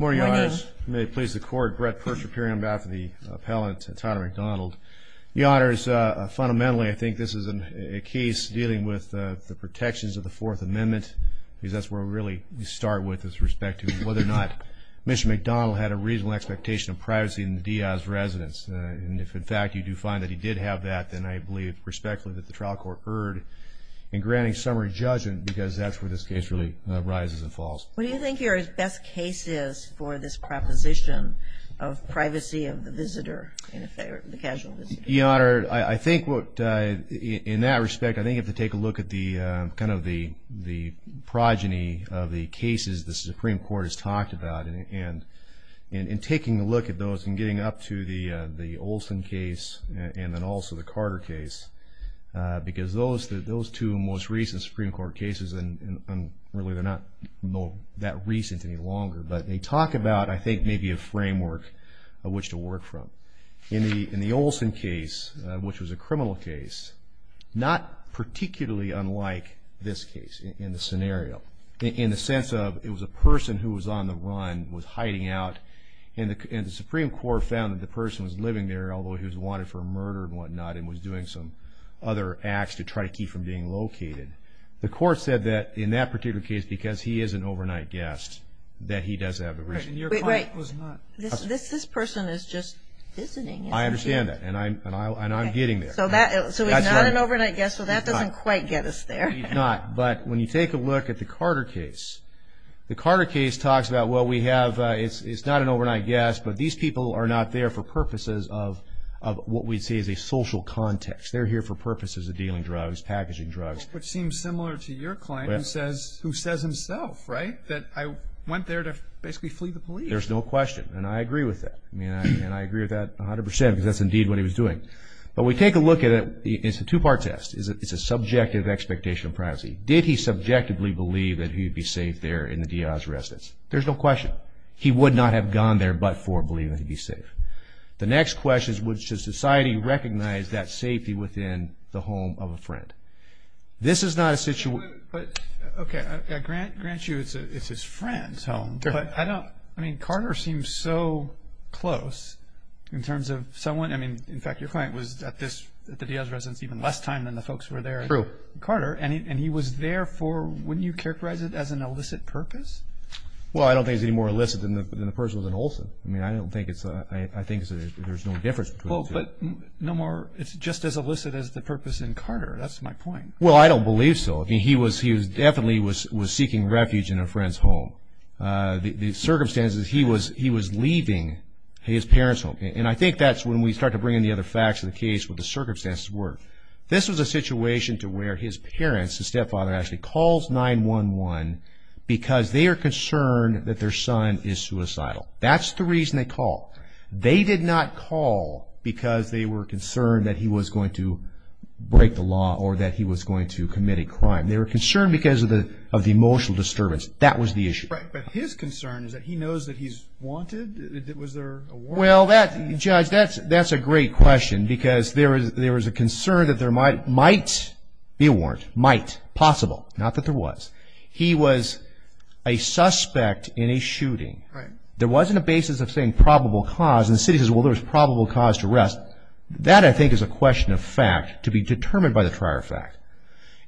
More yoners. May it please the court. Brett Persher, appearing on behalf of the appellant, Tyler McDonald. Yoners, fundamentally I think this is a case dealing with the protections of the Fourth Amendment because that's where we really start with as respect to whether or not Mr. McDonald had a reasonable expectation of privacy in the Diaz residence and if in fact you do find that he did have that then I believe respectfully that the trial court erred in granting summary judgment because that's where this case really rises and falls. What do you think are his best cases for this proposition of privacy of the visitor, the casual visitor? Your Honor, I think what in that respect I think you have to take a look at the kind of the the progeny of the cases the Supreme Court has talked about and in taking a look at those and getting up to the the Olson case and then also the Carter case because those those two most recent Supreme Court cases and really they're not that recent any longer but they talk about I think maybe a framework of which to work from. In the Olson case, which was a criminal case, not particularly unlike this case in the scenario in the sense of it was a person who was on the run, was hiding out, and the Supreme Court found that the person was living there although he was wanted for murder and whatnot and was doing some other acts to try to keep from being located. The court said that in that particular case, because he is an overnight guest, that he does have a reason. Wait, this person is just visiting. I understand that and I'm getting there. So he's not an overnight guest, so that doesn't quite get us there. He's not, but when you take a look at the Carter case, the Carter case talks about well we have, it's not an overnight guest, but these people are not there for purposes of what we see as a social context. They're here for purposes of who says himself, right? That I went there to basically flee the police. There's no question and I agree with that. I mean I agree with that 100% because that's indeed what he was doing. But we take a look at it, it's a two-part test. It's a subjective expectation of privacy. Did he subjectively believe that he'd be safe there in the Diaz residence? There's no question. He would not have gone there but for believing that he'd be safe. The next question is would society recognize that safety within the home of a friend? This is not a situation. But okay, I grant you it's his friend's home, but I don't, I mean Carter seems so close in terms of someone, I mean in fact your client was at this, at the Diaz residence even less time than the folks who were there. True. Carter and he was there for, wouldn't you characterize it as an illicit purpose? Well I don't think it's any more illicit than the person was in Olson. I mean I don't think it's, I think there's no difference between the two. But no more, it's just as illicit as the purpose in Carter, that's my point. Well I don't believe so. I mean he was, he was definitely was, was seeking refuge in a friend's home. The circumstances, he was, he was leaving his parents home. And I think that's when we start to bring in the other facts of the case, what the circumstances were. This was a situation to where his parents, his stepfather actually calls 911 because they are concerned that their son is suicidal. That's the reason they called. They did not call because they were concerned that he was going to break the law or that he was going to commit a crime. They were concerned because of the, of the emotional disturbance. That was the issue. Right, but his concern is that he knows that he's wanted. Was there a warrant? Well that, Judge, that's, that's a great question because there is, there was a concern that there might, might be a warrant. Might. Possible. Not that there was. He was a suspect in a shooting. Right. There wasn't a basis of saying probable cause. And the city says, well there was probable cause to arrest. That I think is a question of fact to be determined by the prior fact.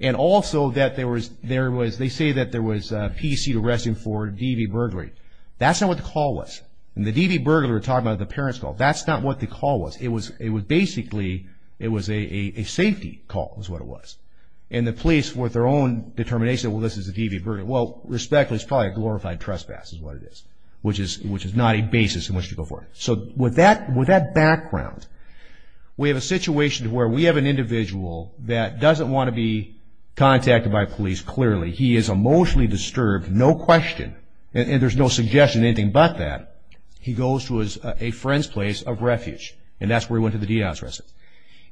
And also that there was, there was, they say that there was a PC arresting for DV burglary. That's not what the call was. And the DV burglar, we're talking about the parents call, that's not what the call was. It was, it was basically, it was a, a, a safety call is what it was. And the police with their own determination, well this is a DV burglar. Well, respectfully, it's probably a glorified trespass is what it is. Which is, which is not a basis in which to go forward. So with that, with that background, we have a situation where we have an individual that doesn't want to be contacted by police clearly. He is emotionally disturbed, no question. And there's no suggestion of anything but that. He goes to his, a friend's place of refuge. And that's where he went to the DDOT's residence.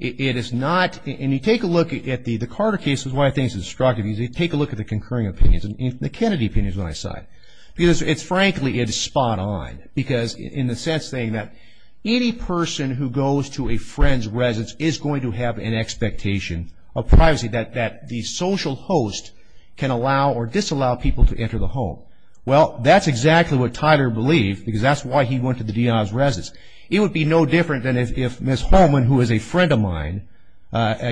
It is not, and you take a look at the, the Carter case is why I think it's destructive. You take a look at the concurring opinions. The Kennedy opinion is what I cite. Because it's frankly, it's spot on. Because in the sense saying that any person who goes to a friend's residence is going to have an expectation of privacy. That, that the social host can allow or disallow people to enter the home. Well, that's exactly what Tyler believed. Because that's why he went to the DDOT's residence. It would be no different than if, if Ms. Holman, who is a friend of mine,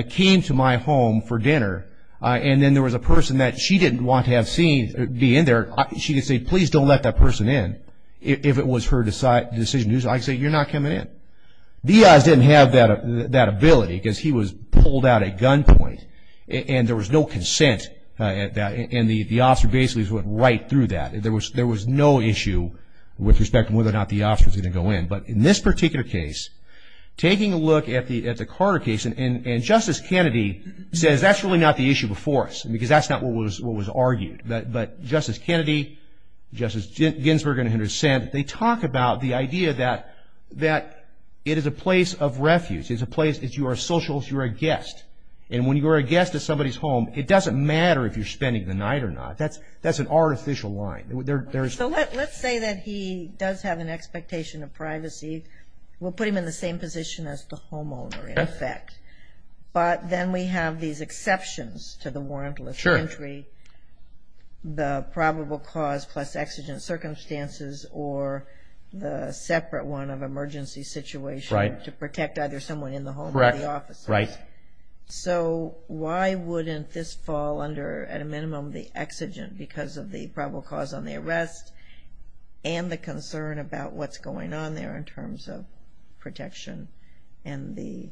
came to my home for dinner. And then there was a person that she didn't want to have seen, be in there. She could say, please don't let that person in. If it was her decision, I could say, you're not coming in. The EI's didn't have that, that ability because he was pulled out at gunpoint. And there was no consent at that. And the officer basically went right through that. There was, there was no issue with respect to whether or not the officer was going to go in. But in this particular case, taking a look at the, at the Carter case and, and Justice Kennedy says, that's really not the issue before us. Because that's not what was, what was argued. But, but Justice Kennedy, Justice Ginsberg in her dissent, they talk about the idea that, that it is a place of refuge. It's a place, if you are a social host, you're a guest. And when you are a guest at somebody's home, it doesn't matter if you're spending the night or not. That's, that's an artificial line. There, there's... So let, let's say that he does have an expectation of privacy. We'll put him in the same position as the homeowner, in effect. But then we have these exceptions to the warrantless entry, the probable cause plus exigent circumstances or the separate one of emergency situation to protect either someone in the home or the officer. Correct. Right. So why wouldn't this fall under, at a minimum, the exigent because of the probable cause on the arrest and the concern about what's going on there in and the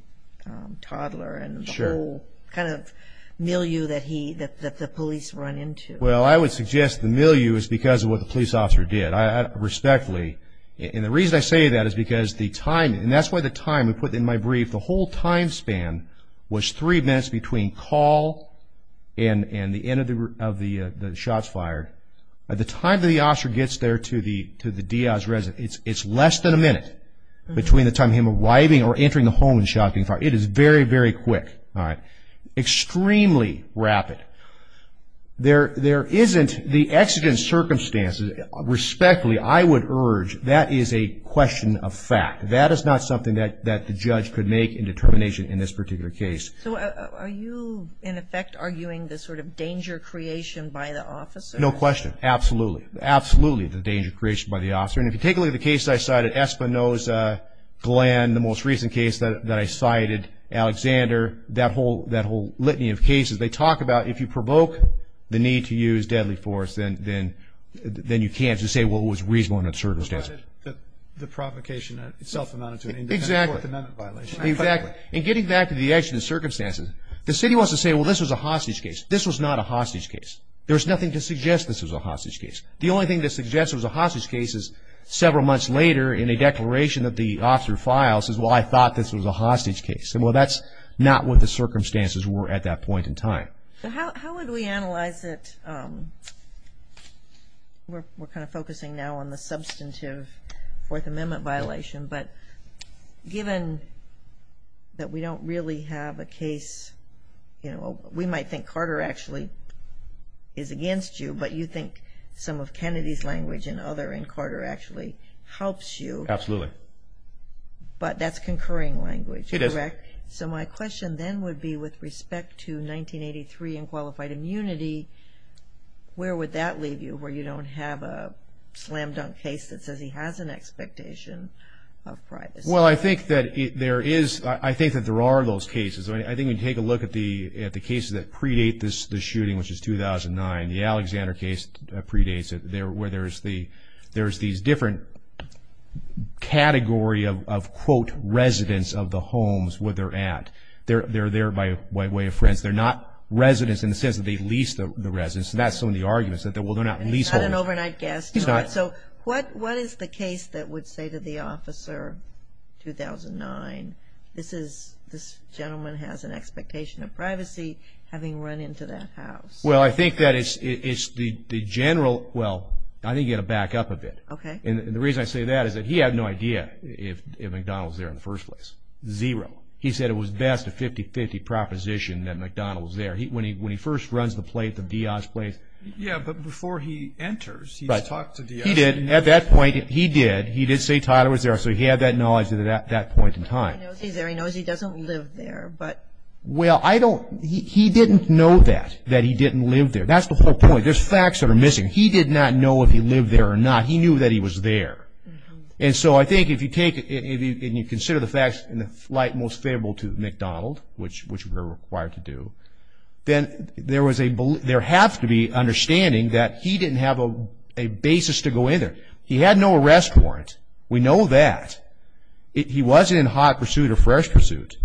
toddler and the whole kind of milieu that he, that, that the police run into? Well, I would suggest the milieu is because of what the police officer did. I respectfully, and the reason I say that is because the time, and that's why the time we put in my brief, the whole time span was three minutes between call and, and the end of the, of the, the shots fired. By the time that the officer gets there to the, to the Diaz residence, it's, it's less than a minute between the time of him arriving or entering the home and shouting fire. It is very, very quick. All right. Extremely rapid. There, there isn't the exigent circumstances. Respectfully, I would urge that is a question of fact. That is not something that, that the judge could make in determination in this particular case. So are you, in effect, arguing the sort of danger creation by the officer? No question. Absolutely. Absolutely. The danger creation by the officer. And if you take a look at the case I cited, Espinoza, Glenn, the most recent case that, that I cited, Alexander, that whole, that whole litany of cases, they talk about if you provoke the need to use deadly force, then, then, then you can't just say, well, it was reasonable in that circumstance. Provided that the provocation itself amounted to an independent court amendment violation. Exactly. Exactly. And getting back to the exigent circumstances, the city wants to say, well, this was a hostage case. This was not a hostage case. There was nothing to suggest this was a hostage case. The only thing that suggests it was a hostage case is several months later in a declaration that the officer files, says, well, I thought this was a hostage case. And, well, that's not what the circumstances were at that point in time. So how, how would we analyze it? We're, we're kind of focusing now on the substantive Fourth Amendment violation, but given that we don't really have a case, you know, we might think Carter actually is against you, but you know, I think some of Kennedy's language and other in Carter actually helps you. Absolutely. But that's concurring language. It is. Correct? So my question then would be with respect to 1983 and qualified immunity, where would that leave you where you don't have a slam dunk case that says he has an expectation of privacy? Well, I think that there is, I think that there are those cases. I mean, I think you take a look at the, at the cases that predate this, the shooting, which is 2009, the Alexander case predates it there, where there's the, there's these different category of, of quote, residents of the homes where they're at. They're, they're there by way of friends. They're not residents in the sense that they leased the residence. That's some of the arguments that they will not lease homes. He's not an overnight guest. He's not. So what, what is the case that would say to the officer, 2009, this is, this is? Well, I think that it's, it's the, the general. Well, I think you got to back up a bit. Okay. And the reason I say that is that he had no idea if, if McDonald's there in the first place. Zero. He said it was best a 50-50 proposition that McDonald's there. He, when he, when he first runs the plate, the DIAJ plates. Yeah, but before he enters, he's talked to DIAJ. He did, at that point he did, he did say Tyler was there, so he had that knowledge of that that point in time. He knows he's there. He knows he doesn't live there. But. Well, I don't, he, he didn't know that, that he didn't live there. That's the whole point. There's facts that are missing. He did not know if he lived there or not. He knew that he was there. And so I think if you take, if you consider the facts in the light most favorable to McDonald, which, which we're required to do, then there was a, there has to be understanding that he didn't have a, a basis to go in there. He had no arrest warrant. We know that. He wasn't in hot pursuit or fresh pursuit.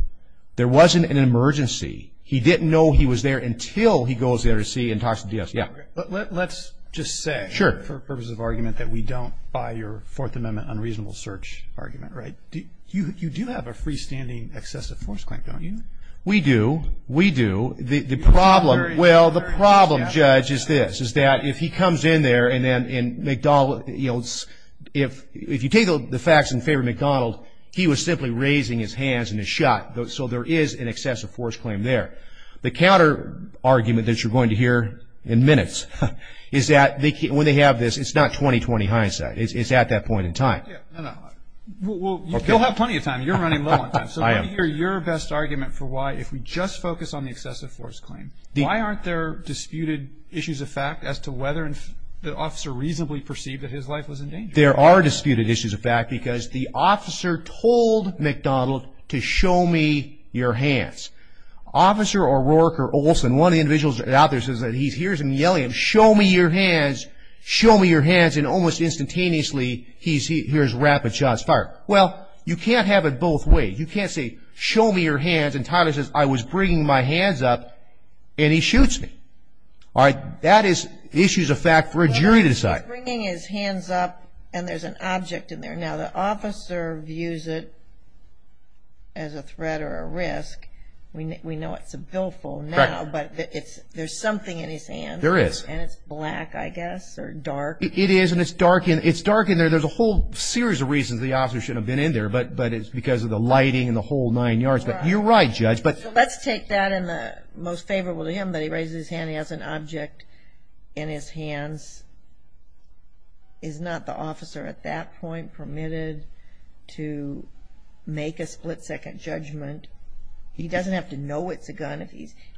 There wasn't an emergency. He didn't know he was there until he goes there to see and talks to DIAJ. Yeah, but let's just say, for purposes of argument, that we don't buy your Fourth Amendment unreasonable search argument, right? Do you, you do have a freestanding excessive force claim, don't you? We do. We do. The, the problem. Well, the problem, Judge, is this, is that if he comes in there and then, and McDonald, you know, if, if you take the facts in favor of that, so there is an excessive force claim there. The counter argument that you're going to hear in minutes is that they, when they have this, it's not 20-20 hindsight. It's, it's at that point in time. Yeah, no, no. Well, you'll have plenty of time. You're running low on time. So let me hear your best argument for why, if we just focus on the excessive force claim, why aren't there disputed issues of fact as to whether the officer reasonably perceived that his life was in danger? There are disputed issues of fact because the officer told McDonald to show me your hands. Officer O'Rourke, or Olson, one of the individuals out there, says that he hears him yelling, show me your hands, show me your hands, and almost instantaneously, he hears rapid shots fired. Well, you can't have it both ways. You can't say, show me your hands, and Tyler says, I was bringing my hands up, and he shoots me. All right, that is issues of fact for a jury to decide. Well, he's bringing his hands up, and there's an object in there. Now, the officer views it as a threat or a risk. We know it's a billful now, but there's something in his hands. There is. And it's black, I guess, or dark. It is, and it's dark in there. There's a whole series of reasons the officer shouldn't have been in there, but it's because of the lighting and the whole nine yards. But you're right, Judge. So let's take that in the most favorable to him, that he raises his hand as an object in his hands. Is not the officer, at that point, permitted to make a split-second judgment? He doesn't have to know it's a gun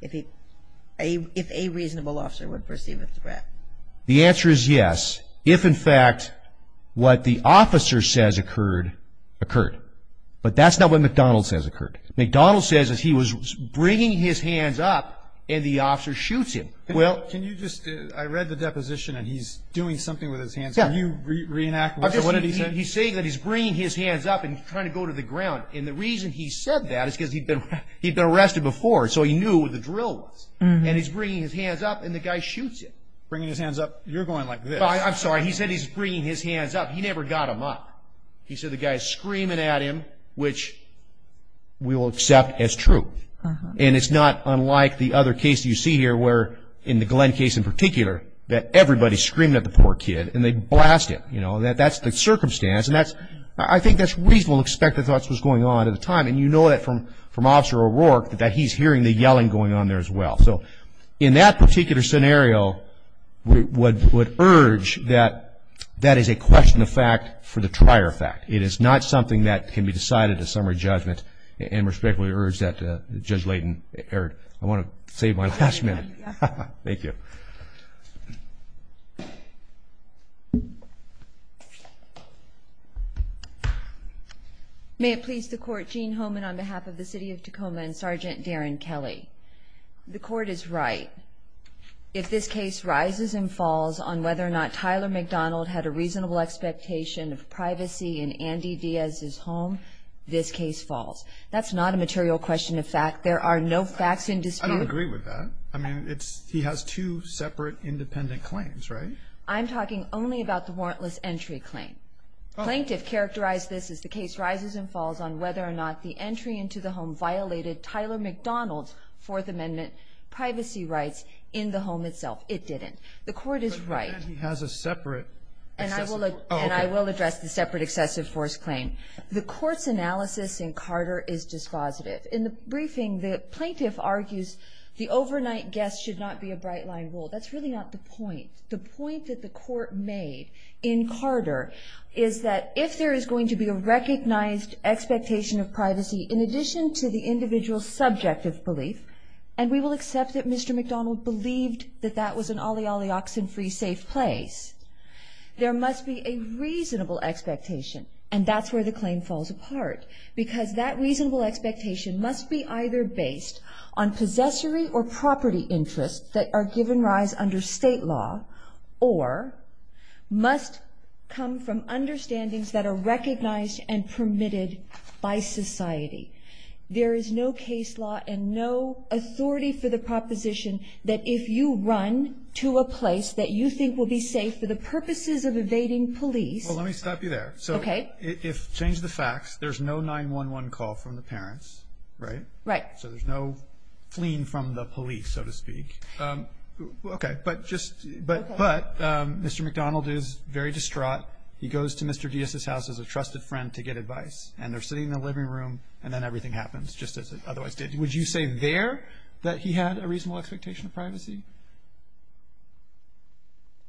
if a reasonable officer would perceive it as a threat. The answer is yes, if, in fact, what the officer says occurred, occurred. But that's not what McDonald says occurred. McDonald says he was bringing his hands up, and the officer shoots him. Well, can you just... I read the deposition, and he's doing something with his hands. Can you reenact what he said? He's saying that he's bringing his hands up and trying to go to the ground. And the reason he said that is because he'd been arrested before, so he knew what the drill was. And he's bringing his hands up, and the guy shoots him. Bringing his hands up. You're going like this. I'm sorry. He said he's bringing his hands up. He never got them up. He said the guy's screaming at him, which we will accept as true. And it's not unlike the other case you see here where, in the Glenn case in particular, that everybody's screaming at the poor kid, and they blast him. You know, that's the circumstance, and I think that's reasonable to expect the thoughts was going on at the time. And you know that from Officer O'Rourke, that he's hearing the yelling going on there as well. So in that particular scenario, we would urge that that is a question of fact for the trier fact. It is not something that can be decided as summary judgment, and we respectfully urge that, Judge Layden, Eric, I want to save my last minute. May it please the court. Jean Homan on behalf of the city of Tacoma and Sergeant Darren Kelly. The court is right. If this case rises and falls on whether or not Tyler McDonald had a reasonable expectation of privacy in Andy Diaz's home, this case falls. That's not a material question of fact. There are no facts in dispute. I don't agree with that. I mean, he has two separate independent claims, right? I'm talking only about the warrantless entry claim. Plaintiff characterized this as the case rises and falls on whether or not the entry into the home violated Tyler McDonald's Fourth Amendment privacy rights in the home itself. It didn't. The court is right. But then he has a separate excessive force claim. And I will address the separate excessive force claim. The court's analysis in Carter is dispositive. In the briefing, the plaintiff argues the overnight guest should not be a bright line rule. That's really not the point. The point that the court made in Carter is that if there is going to be a recognized expectation of privacy in addition to the individual's subjective belief, and we will accept that Mr. McDonald believed that that was an olly olly oxen free safe place, there must be a reasonable expectation. And that's where the claim falls apart, because that reasonable expectation must be either based on possessory or property interests that are given rise under state law, or must come from understandings that are recognized and permitted by society. There is no case law and no authority for the proposition that if you run to a place that you think will be safe for the purposes of evading police. Well, let me stop you there. OK. If, change the facts, there's no 911 call from the parents, right? Right. So there's no fleeing from the police, so to speak. OK. But Mr. McDonald is very distraught. He goes to Mr. Diaz's house as a trusted friend to get advice. And they're sitting in the living room, and then everything happens, just as it otherwise did. Would you say there that he had a reasonable expectation of privacy?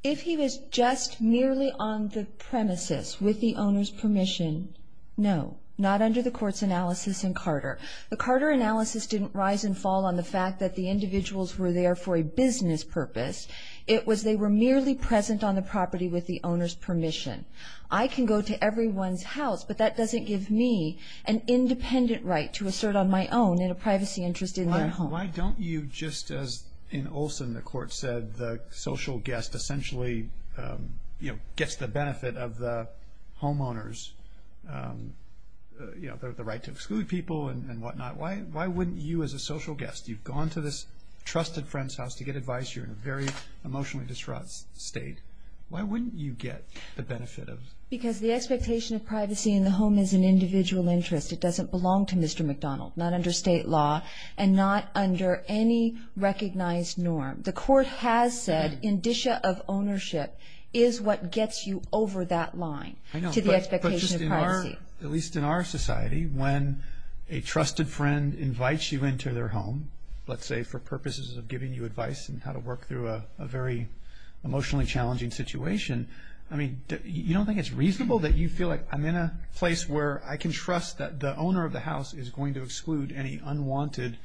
If he was just merely on the premises with the owner's permission, no. Not under the court's analysis in Carter. The Carter analysis didn't rise and fall on the fact that the individuals were there for a business purpose. It was they were merely present on the property with the owner's permission. I can go to everyone's house, but that doesn't give me an independent right to assert on my own in a privacy interest in their home. Why don't you just, as in Olson the court said, the social guest essentially gets the benefit of the homeowners, the right to exclude people and whatnot. Why wouldn't you, as a social guest, you've gone to this trusted friend's house to get advice. You're in a very emotionally distraught state. Why wouldn't you get the benefit of? Because the expectation of privacy in the home is an individual interest. It doesn't belong to Mr. McDonald. Not under state law and not under any recognized norm. The court has said indicia of ownership is what gets you over that line to the expectation of privacy. At least in our society, when a trusted friend invites you into their home, let's say for purposes of giving you advice and how to work through a very emotionally challenging situation, I mean, you don't think it's reasonable that you feel like I'm in a place where I can trust that the owner of the house is going to exclude any unwanted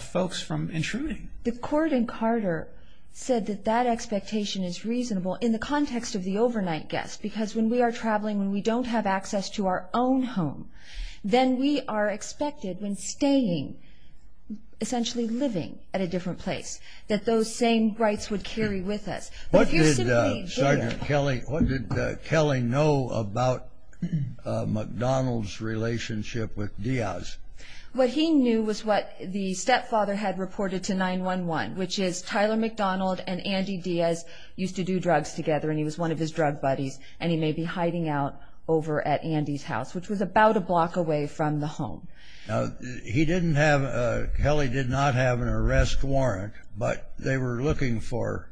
folks from intruding? The court in Carter said that that expectation is reasonable in the context of the overnight guest. Because when we are traveling, when we don't have access to our own home, then we are expected, when staying, essentially living at a different place, that those same rights would carry with us. What did Sergeant Kelly, what did Kelly know about McDonald's relationship with Diaz? What he knew was what the stepfather had reported to 9-1-1, which is Tyler McDonald and Andy Diaz used to do drugs together and he was one of his drug buddies and he may be hiding out over at Andy's house, which was about a block away from the home. Now, he didn't have, Kelly did not have an arrest warrant, but they were looking for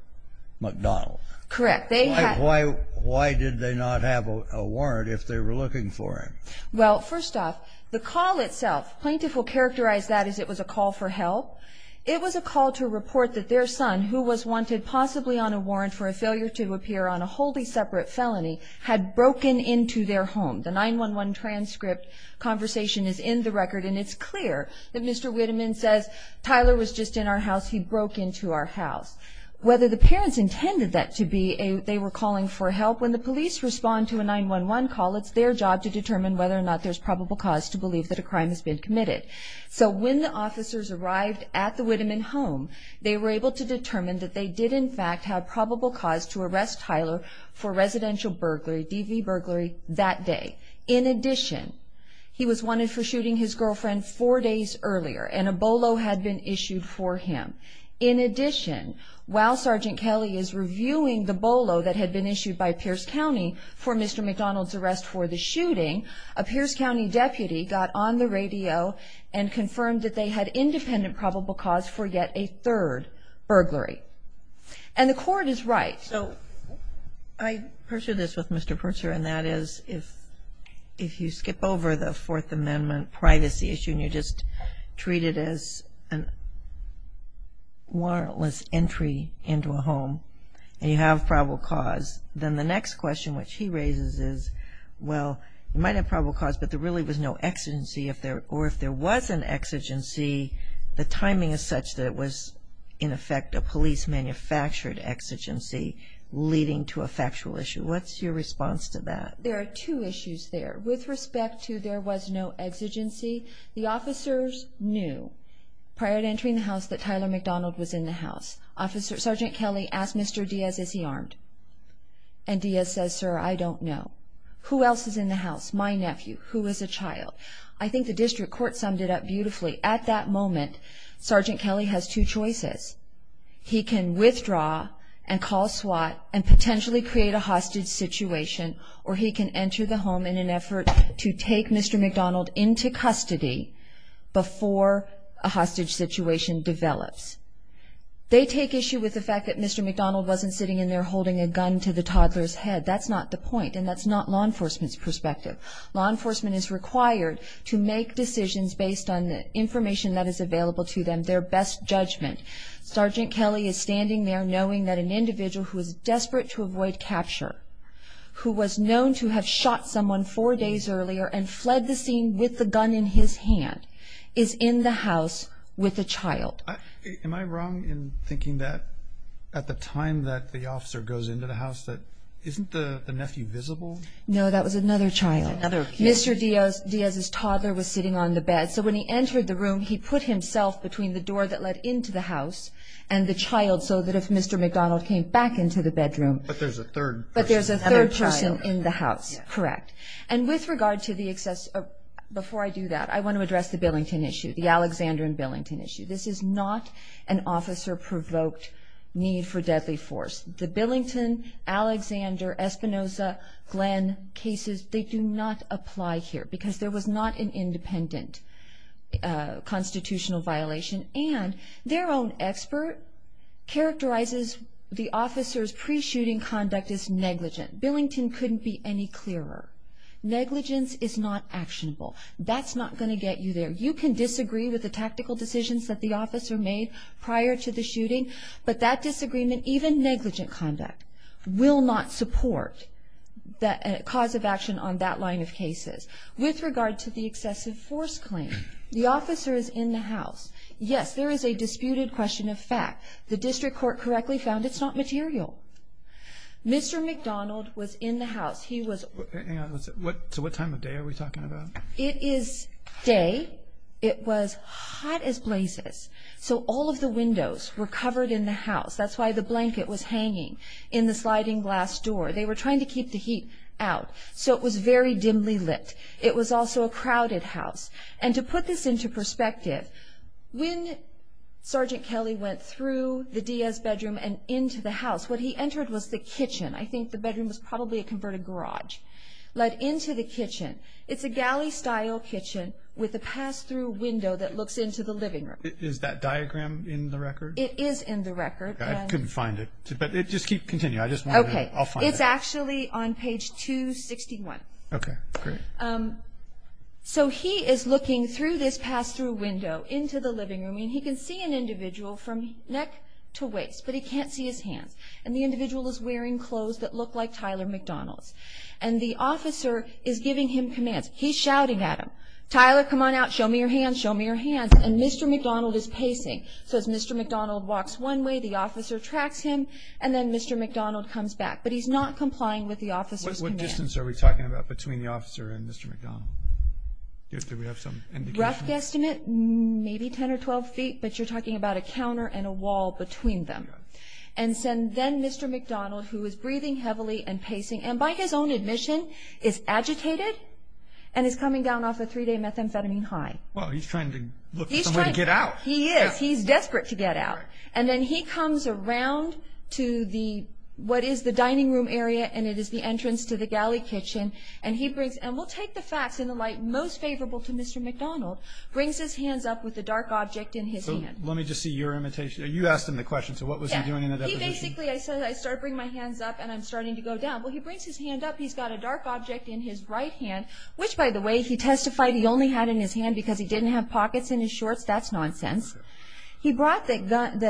McDonald. Correct. They had... Why did they not have a warrant if they were looking for him? Well, first off, the call itself, plaintiff will characterize that as it was a call for help. It was a call to report that their son, who was wanted possibly on a warrant for a failure to appear on a wholly separate felony, had broken into their home. The 9-1-1 transcript conversation is in the record and it's clear that Mr. Whiteman says, Tyler was just in our house, he broke into our house. Whether the parents intended that to be a, they were calling for help, when the police respond to a 9-1-1 call, it's their job to determine whether or not there's probable cause to believe that a crime has been committed. So when the officers arrived at the Whiteman home, they were able to determine that they did in fact have probable cause to arrest Tyler for residential burglary, DV burglary that day. In addition, he was wanted for shooting his girlfriend four days earlier and a bolo had been issued for him. In addition, while Sergeant Kelly is reviewing the bolo that had been issued by Pierce County for Mr. McDonald's arrest for the shooting, a Pierce County deputy got on the radio and confirmed that they had independent probable cause for yet a third burglary. And the court is right. So I pursue this with Mr. Purser and that is if, if you skip over the Fourth Amendment privacy issue and you have probable cause, then the next question which he raises is, well, you might have probable cause, but there really was no exigency. If there, or if there was an exigency, the timing is such that it was in effect a police manufactured exigency leading to a factual issue. What's your response to that? There are two issues there. With respect to there was no exigency, Officer Sergeant Kelly asked Mr. Diaz, is he armed? And Diaz says, sir, I don't know. Who else is in the house? My nephew, who is a child? I think the district court summed it up beautifully. At that moment, Sergeant Kelly has two choices. He can withdraw and call SWAT and potentially create a hostage situation, or he can enter the home in an effort to take Mr. McDonald into custody before a hostage situation develops. They take issue with the fact that Mr. McDonald wasn't sitting in there holding a gun to the toddler's head. That's not the point, and that's not law enforcement's perspective. Law enforcement is required to make decisions based on the information that is available to them, their best judgment. Sergeant Kelly is standing there knowing that an individual who is desperate to avoid capture, who was known to have shot someone four days earlier and fled the scene with the gun in his hand, is in the house with a child. Am I wrong in thinking that at the time that the officer goes into the house, that isn't the nephew visible? No, that was another child. Mr. Diaz's toddler was sitting on the bed, so when he entered the room, he put himself between the door that led into the house and the child so that if Mr. McDonald came back into the bedroom... But there's a third person. But there's a third person in the house, correct. And with regard to the excess... Before I do that, I want to address the Billington issue, the Alexander and Billington issue. This is not an officer-provoked need for deadly force. The Billington, Alexander, Espinosa, Glenn cases, they do not apply here because there was not an independent constitutional violation. And their own expert characterizes the officer's pre-shooting conduct as negligent. Billington couldn't be any clearer. Negligence is not actionable. That's not going to get you there. You can disagree with the tactical decisions that the officer made prior to the shooting, but that disagreement, even negligent conduct, will not support the cause of action on that line of cases. With regard to the excessive force claim, the officer is in the house. Yes, there is a disputed question of fact. The district court correctly found it's not material. Mr. McDonald was in the house. He was... Hang on, so what time of day are we talking about? It is day. It was hot as blazes. So all of the windows were covered in the house. That's why the blanket was hanging in the sliding glass door. They were trying to keep the heat out. So it was very dimly lit. It was also a crowded house. And to put this into perspective, when Sergeant Kelly went through the Diaz bedroom and into the house, what he entered was the kitchen. I think the bedroom was probably a converted garage. Led into the kitchen. It's a galley-style kitchen with a pass-through window that looks into the living room. Is that diagram in the record? It is in the record. I couldn't find it, but just continue. I'll find it. It's actually on page 261. Okay, great. So he is looking through this pass-through window into the living room, and he can see an individual from neck to waist, but he can't see his hands. And the individual is wearing clothes that look like Tyler McDonald's. And the officer is giving him commands. He's shouting at him. Tyler, come on out. Show me your hands. Show me your hands. And Mr. McDonald is pacing. So as Mr. McDonald walks one way, the officer tracks him, and then Mr. McDonald comes back. But he's not complying with the officer's commands. What distance are we talking about between the officer and Mr. McDonald? Do we have some indication? Rough guesstimate, maybe 10 or 12 feet. And then Mr. McDonald, who is breathing heavily and pacing, and by his own admission is agitated and is coming down off a three-day methamphetamine high. Well, he's trying to look for some way to get out. He is. He's desperate to get out. And then he comes around to what is the dining room area, and it is the entrance to the galley kitchen. And he brings, and we'll take the facts in the light most favorable to Mr. McDonald, brings his hands up with the dark object in his hand. So let me just see your imitation. You asked him the question. So what was he doing in the deposition? He basically, I said, I started bringing my hands up, and I'm starting to go down. Well, he brings his hand up. He's got a dark object in his right hand, which, by the way, he testified he only had in his hand because he didn't have pockets in his shorts. That's nonsense. He brought the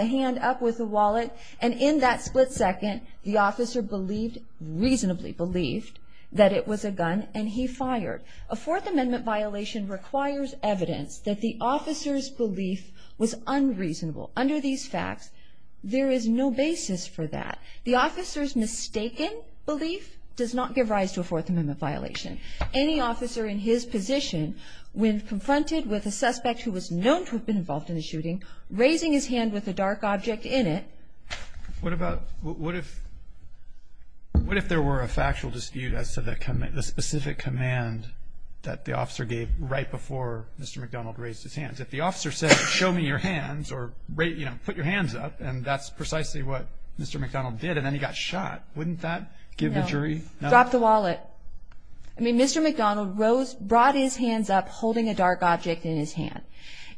hand up with the wallet, and in that split second, the officer believed, reasonably believed, that it was a gun, and he fired. A Fourth Amendment violation requires evidence that the officer's belief was unreasonable. Under these facts, there is no basis for that. The officer's mistaken belief does not give rise to a Fourth Amendment violation. Any officer in his position, when confronted with a suspect who was known to have been involved in a shooting, raising his hand with a dark object in it. What about, what if, what if there were a factual dispute as to the specific command that the officer gave right before Mr. McDonald raised his hands? If the officer said, show me your hands, or, you know, put your hands up, and that's precisely what Mr. McDonald did, and then he got shot. Wouldn't that give the jury? No. Drop the wallet. I mean, Mr. McDonald brought his hands up holding a dark object in his hand.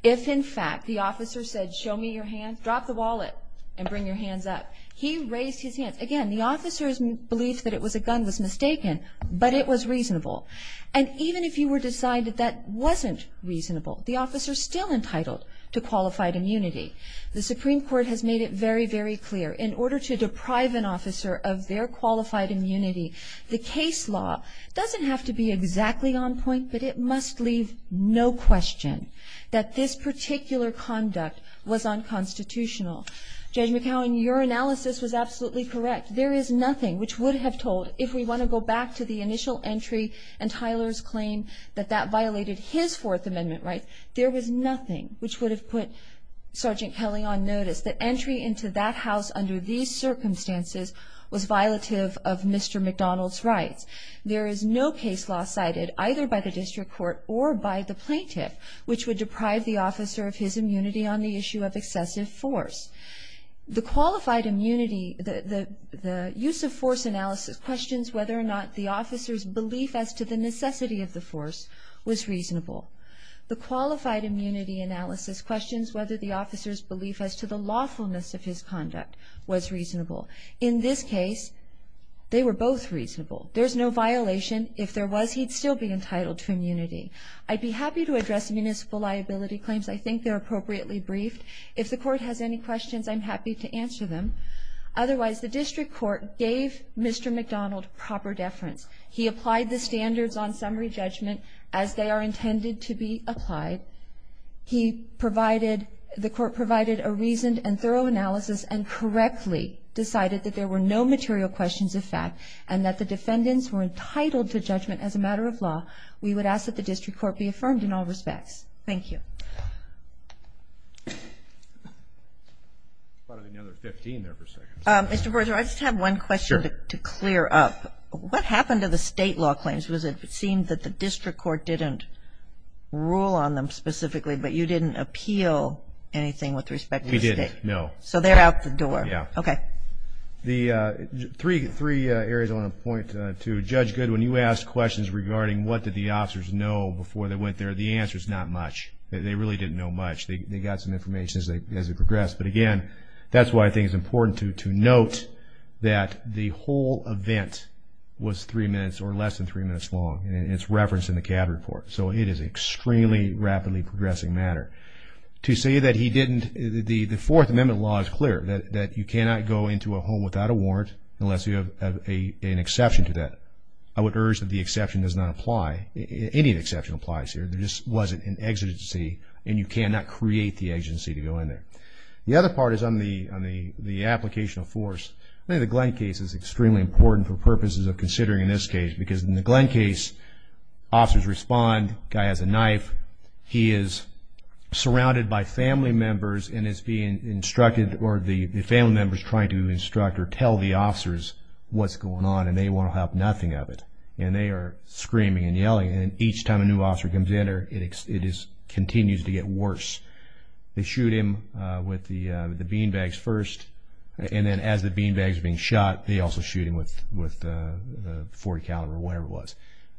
If, in fact, the officer said, show me your hands, drop the wallet, and bring your hands up, he raised his hands. Again, the officer's belief that it was a gun was mistaken, but it was reasonable. And even if you were to decide that that wasn't reasonable, the officer's still entitled to qualified immunity. The Supreme Court has made it very, very clear. In order to deprive an officer of their qualified immunity, the case law doesn't have to be exactly on point, but it must leave no question that this particular conduct was unconstitutional. Judge McCowan, your analysis was absolutely correct. There is nothing which would have told, if we want to go back to the initial entry and Tyler's claim that that violated his Fourth Amendment rights, there was nothing which would have put Sergeant Kelly on notice. The entry into that house under these circumstances was violative of Mr. McDonald's rights. There is no case law cited, either by the district court or by the plaintiff, which would deprive the officer of his immunity on the issue of excessive force. The qualified immunity, the use of force analysis questions whether or not the officer's belief as to the necessity of the force was reasonable. The qualified immunity analysis questions whether the officer's belief as to the lawfulness of his conduct was reasonable. In this case, they were both reasonable. There's no violation. If there was, he'd still be entitled to immunity. I'd be happy to address municipal liability claims. I think they're appropriately briefed. If the court has any questions, I'm happy to answer them. Otherwise, the district court gave Mr. McDonald proper deference. He applied the standards on summary judgment as they are intended to be applied. He provided, the court provided a reasoned and thorough analysis and correctly decided that there were no material questions of fact and that the defendants were entitled to judgment as a matter of law. We would ask that the district court be affirmed in all respects. Thank you. Mr. Berger, I just have one question to clear up. What happened to the state law claims? Was it, it seemed that the district court didn't rule on them specifically, but you didn't appeal anything with respect to the state? We didn't, no. So, they're out the door? Yeah. Okay. The three areas I want to point to, Judge Goodwin, you asked questions regarding what did the officers know before they went there. The answer's not much. They really didn't know much. They got some information as they progressed. But again, that's why I think it's important to note that the whole event was three minutes or less than three minutes long and it's referenced in the CAD report. So, it is an extremely rapidly progressing matter. To say that he didn't, the Fourth Amendment law is clear that you cannot go into a home without a warrant unless you have an exception to that. I would urge that the exception does not apply. Any exception applies here. There just wasn't an exigency and you cannot create the exigency to go in there. The other part is on the application of force. I think the Glenn case is extremely important for purposes of considering this case because in the Glenn case, officers respond, the guy has a knife, he is surrounded by family members and is being instructed or the family members trying to instruct or tell the officers what's going on and they want to have nothing of it. And they are screaming and yelling and each time a new officer comes in there, it continues to get worse. They shoot him with the bean bags first and then as the bean bags are being shot, they also shoot him with the .40 caliber or whatever it was.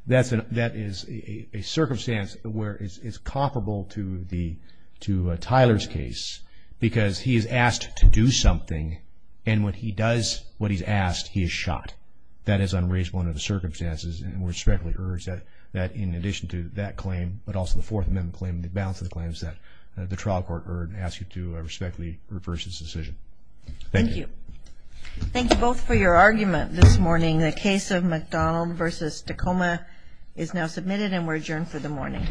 That is a circumstance where it's comparable to Tyler's case because he is asked to do something and when he does what he's asked, he is shot. That is unreasonable under the circumstances and we respectfully urge that in addition to that claim but also the Fourth Amendment claim and the balance of the claims that the trial court urge and ask you to respectfully reverse this decision. Thank you. Thank you both for your argument this morning. The case of McDonald v. Tacoma is now submitted and we're adjourned for the morning.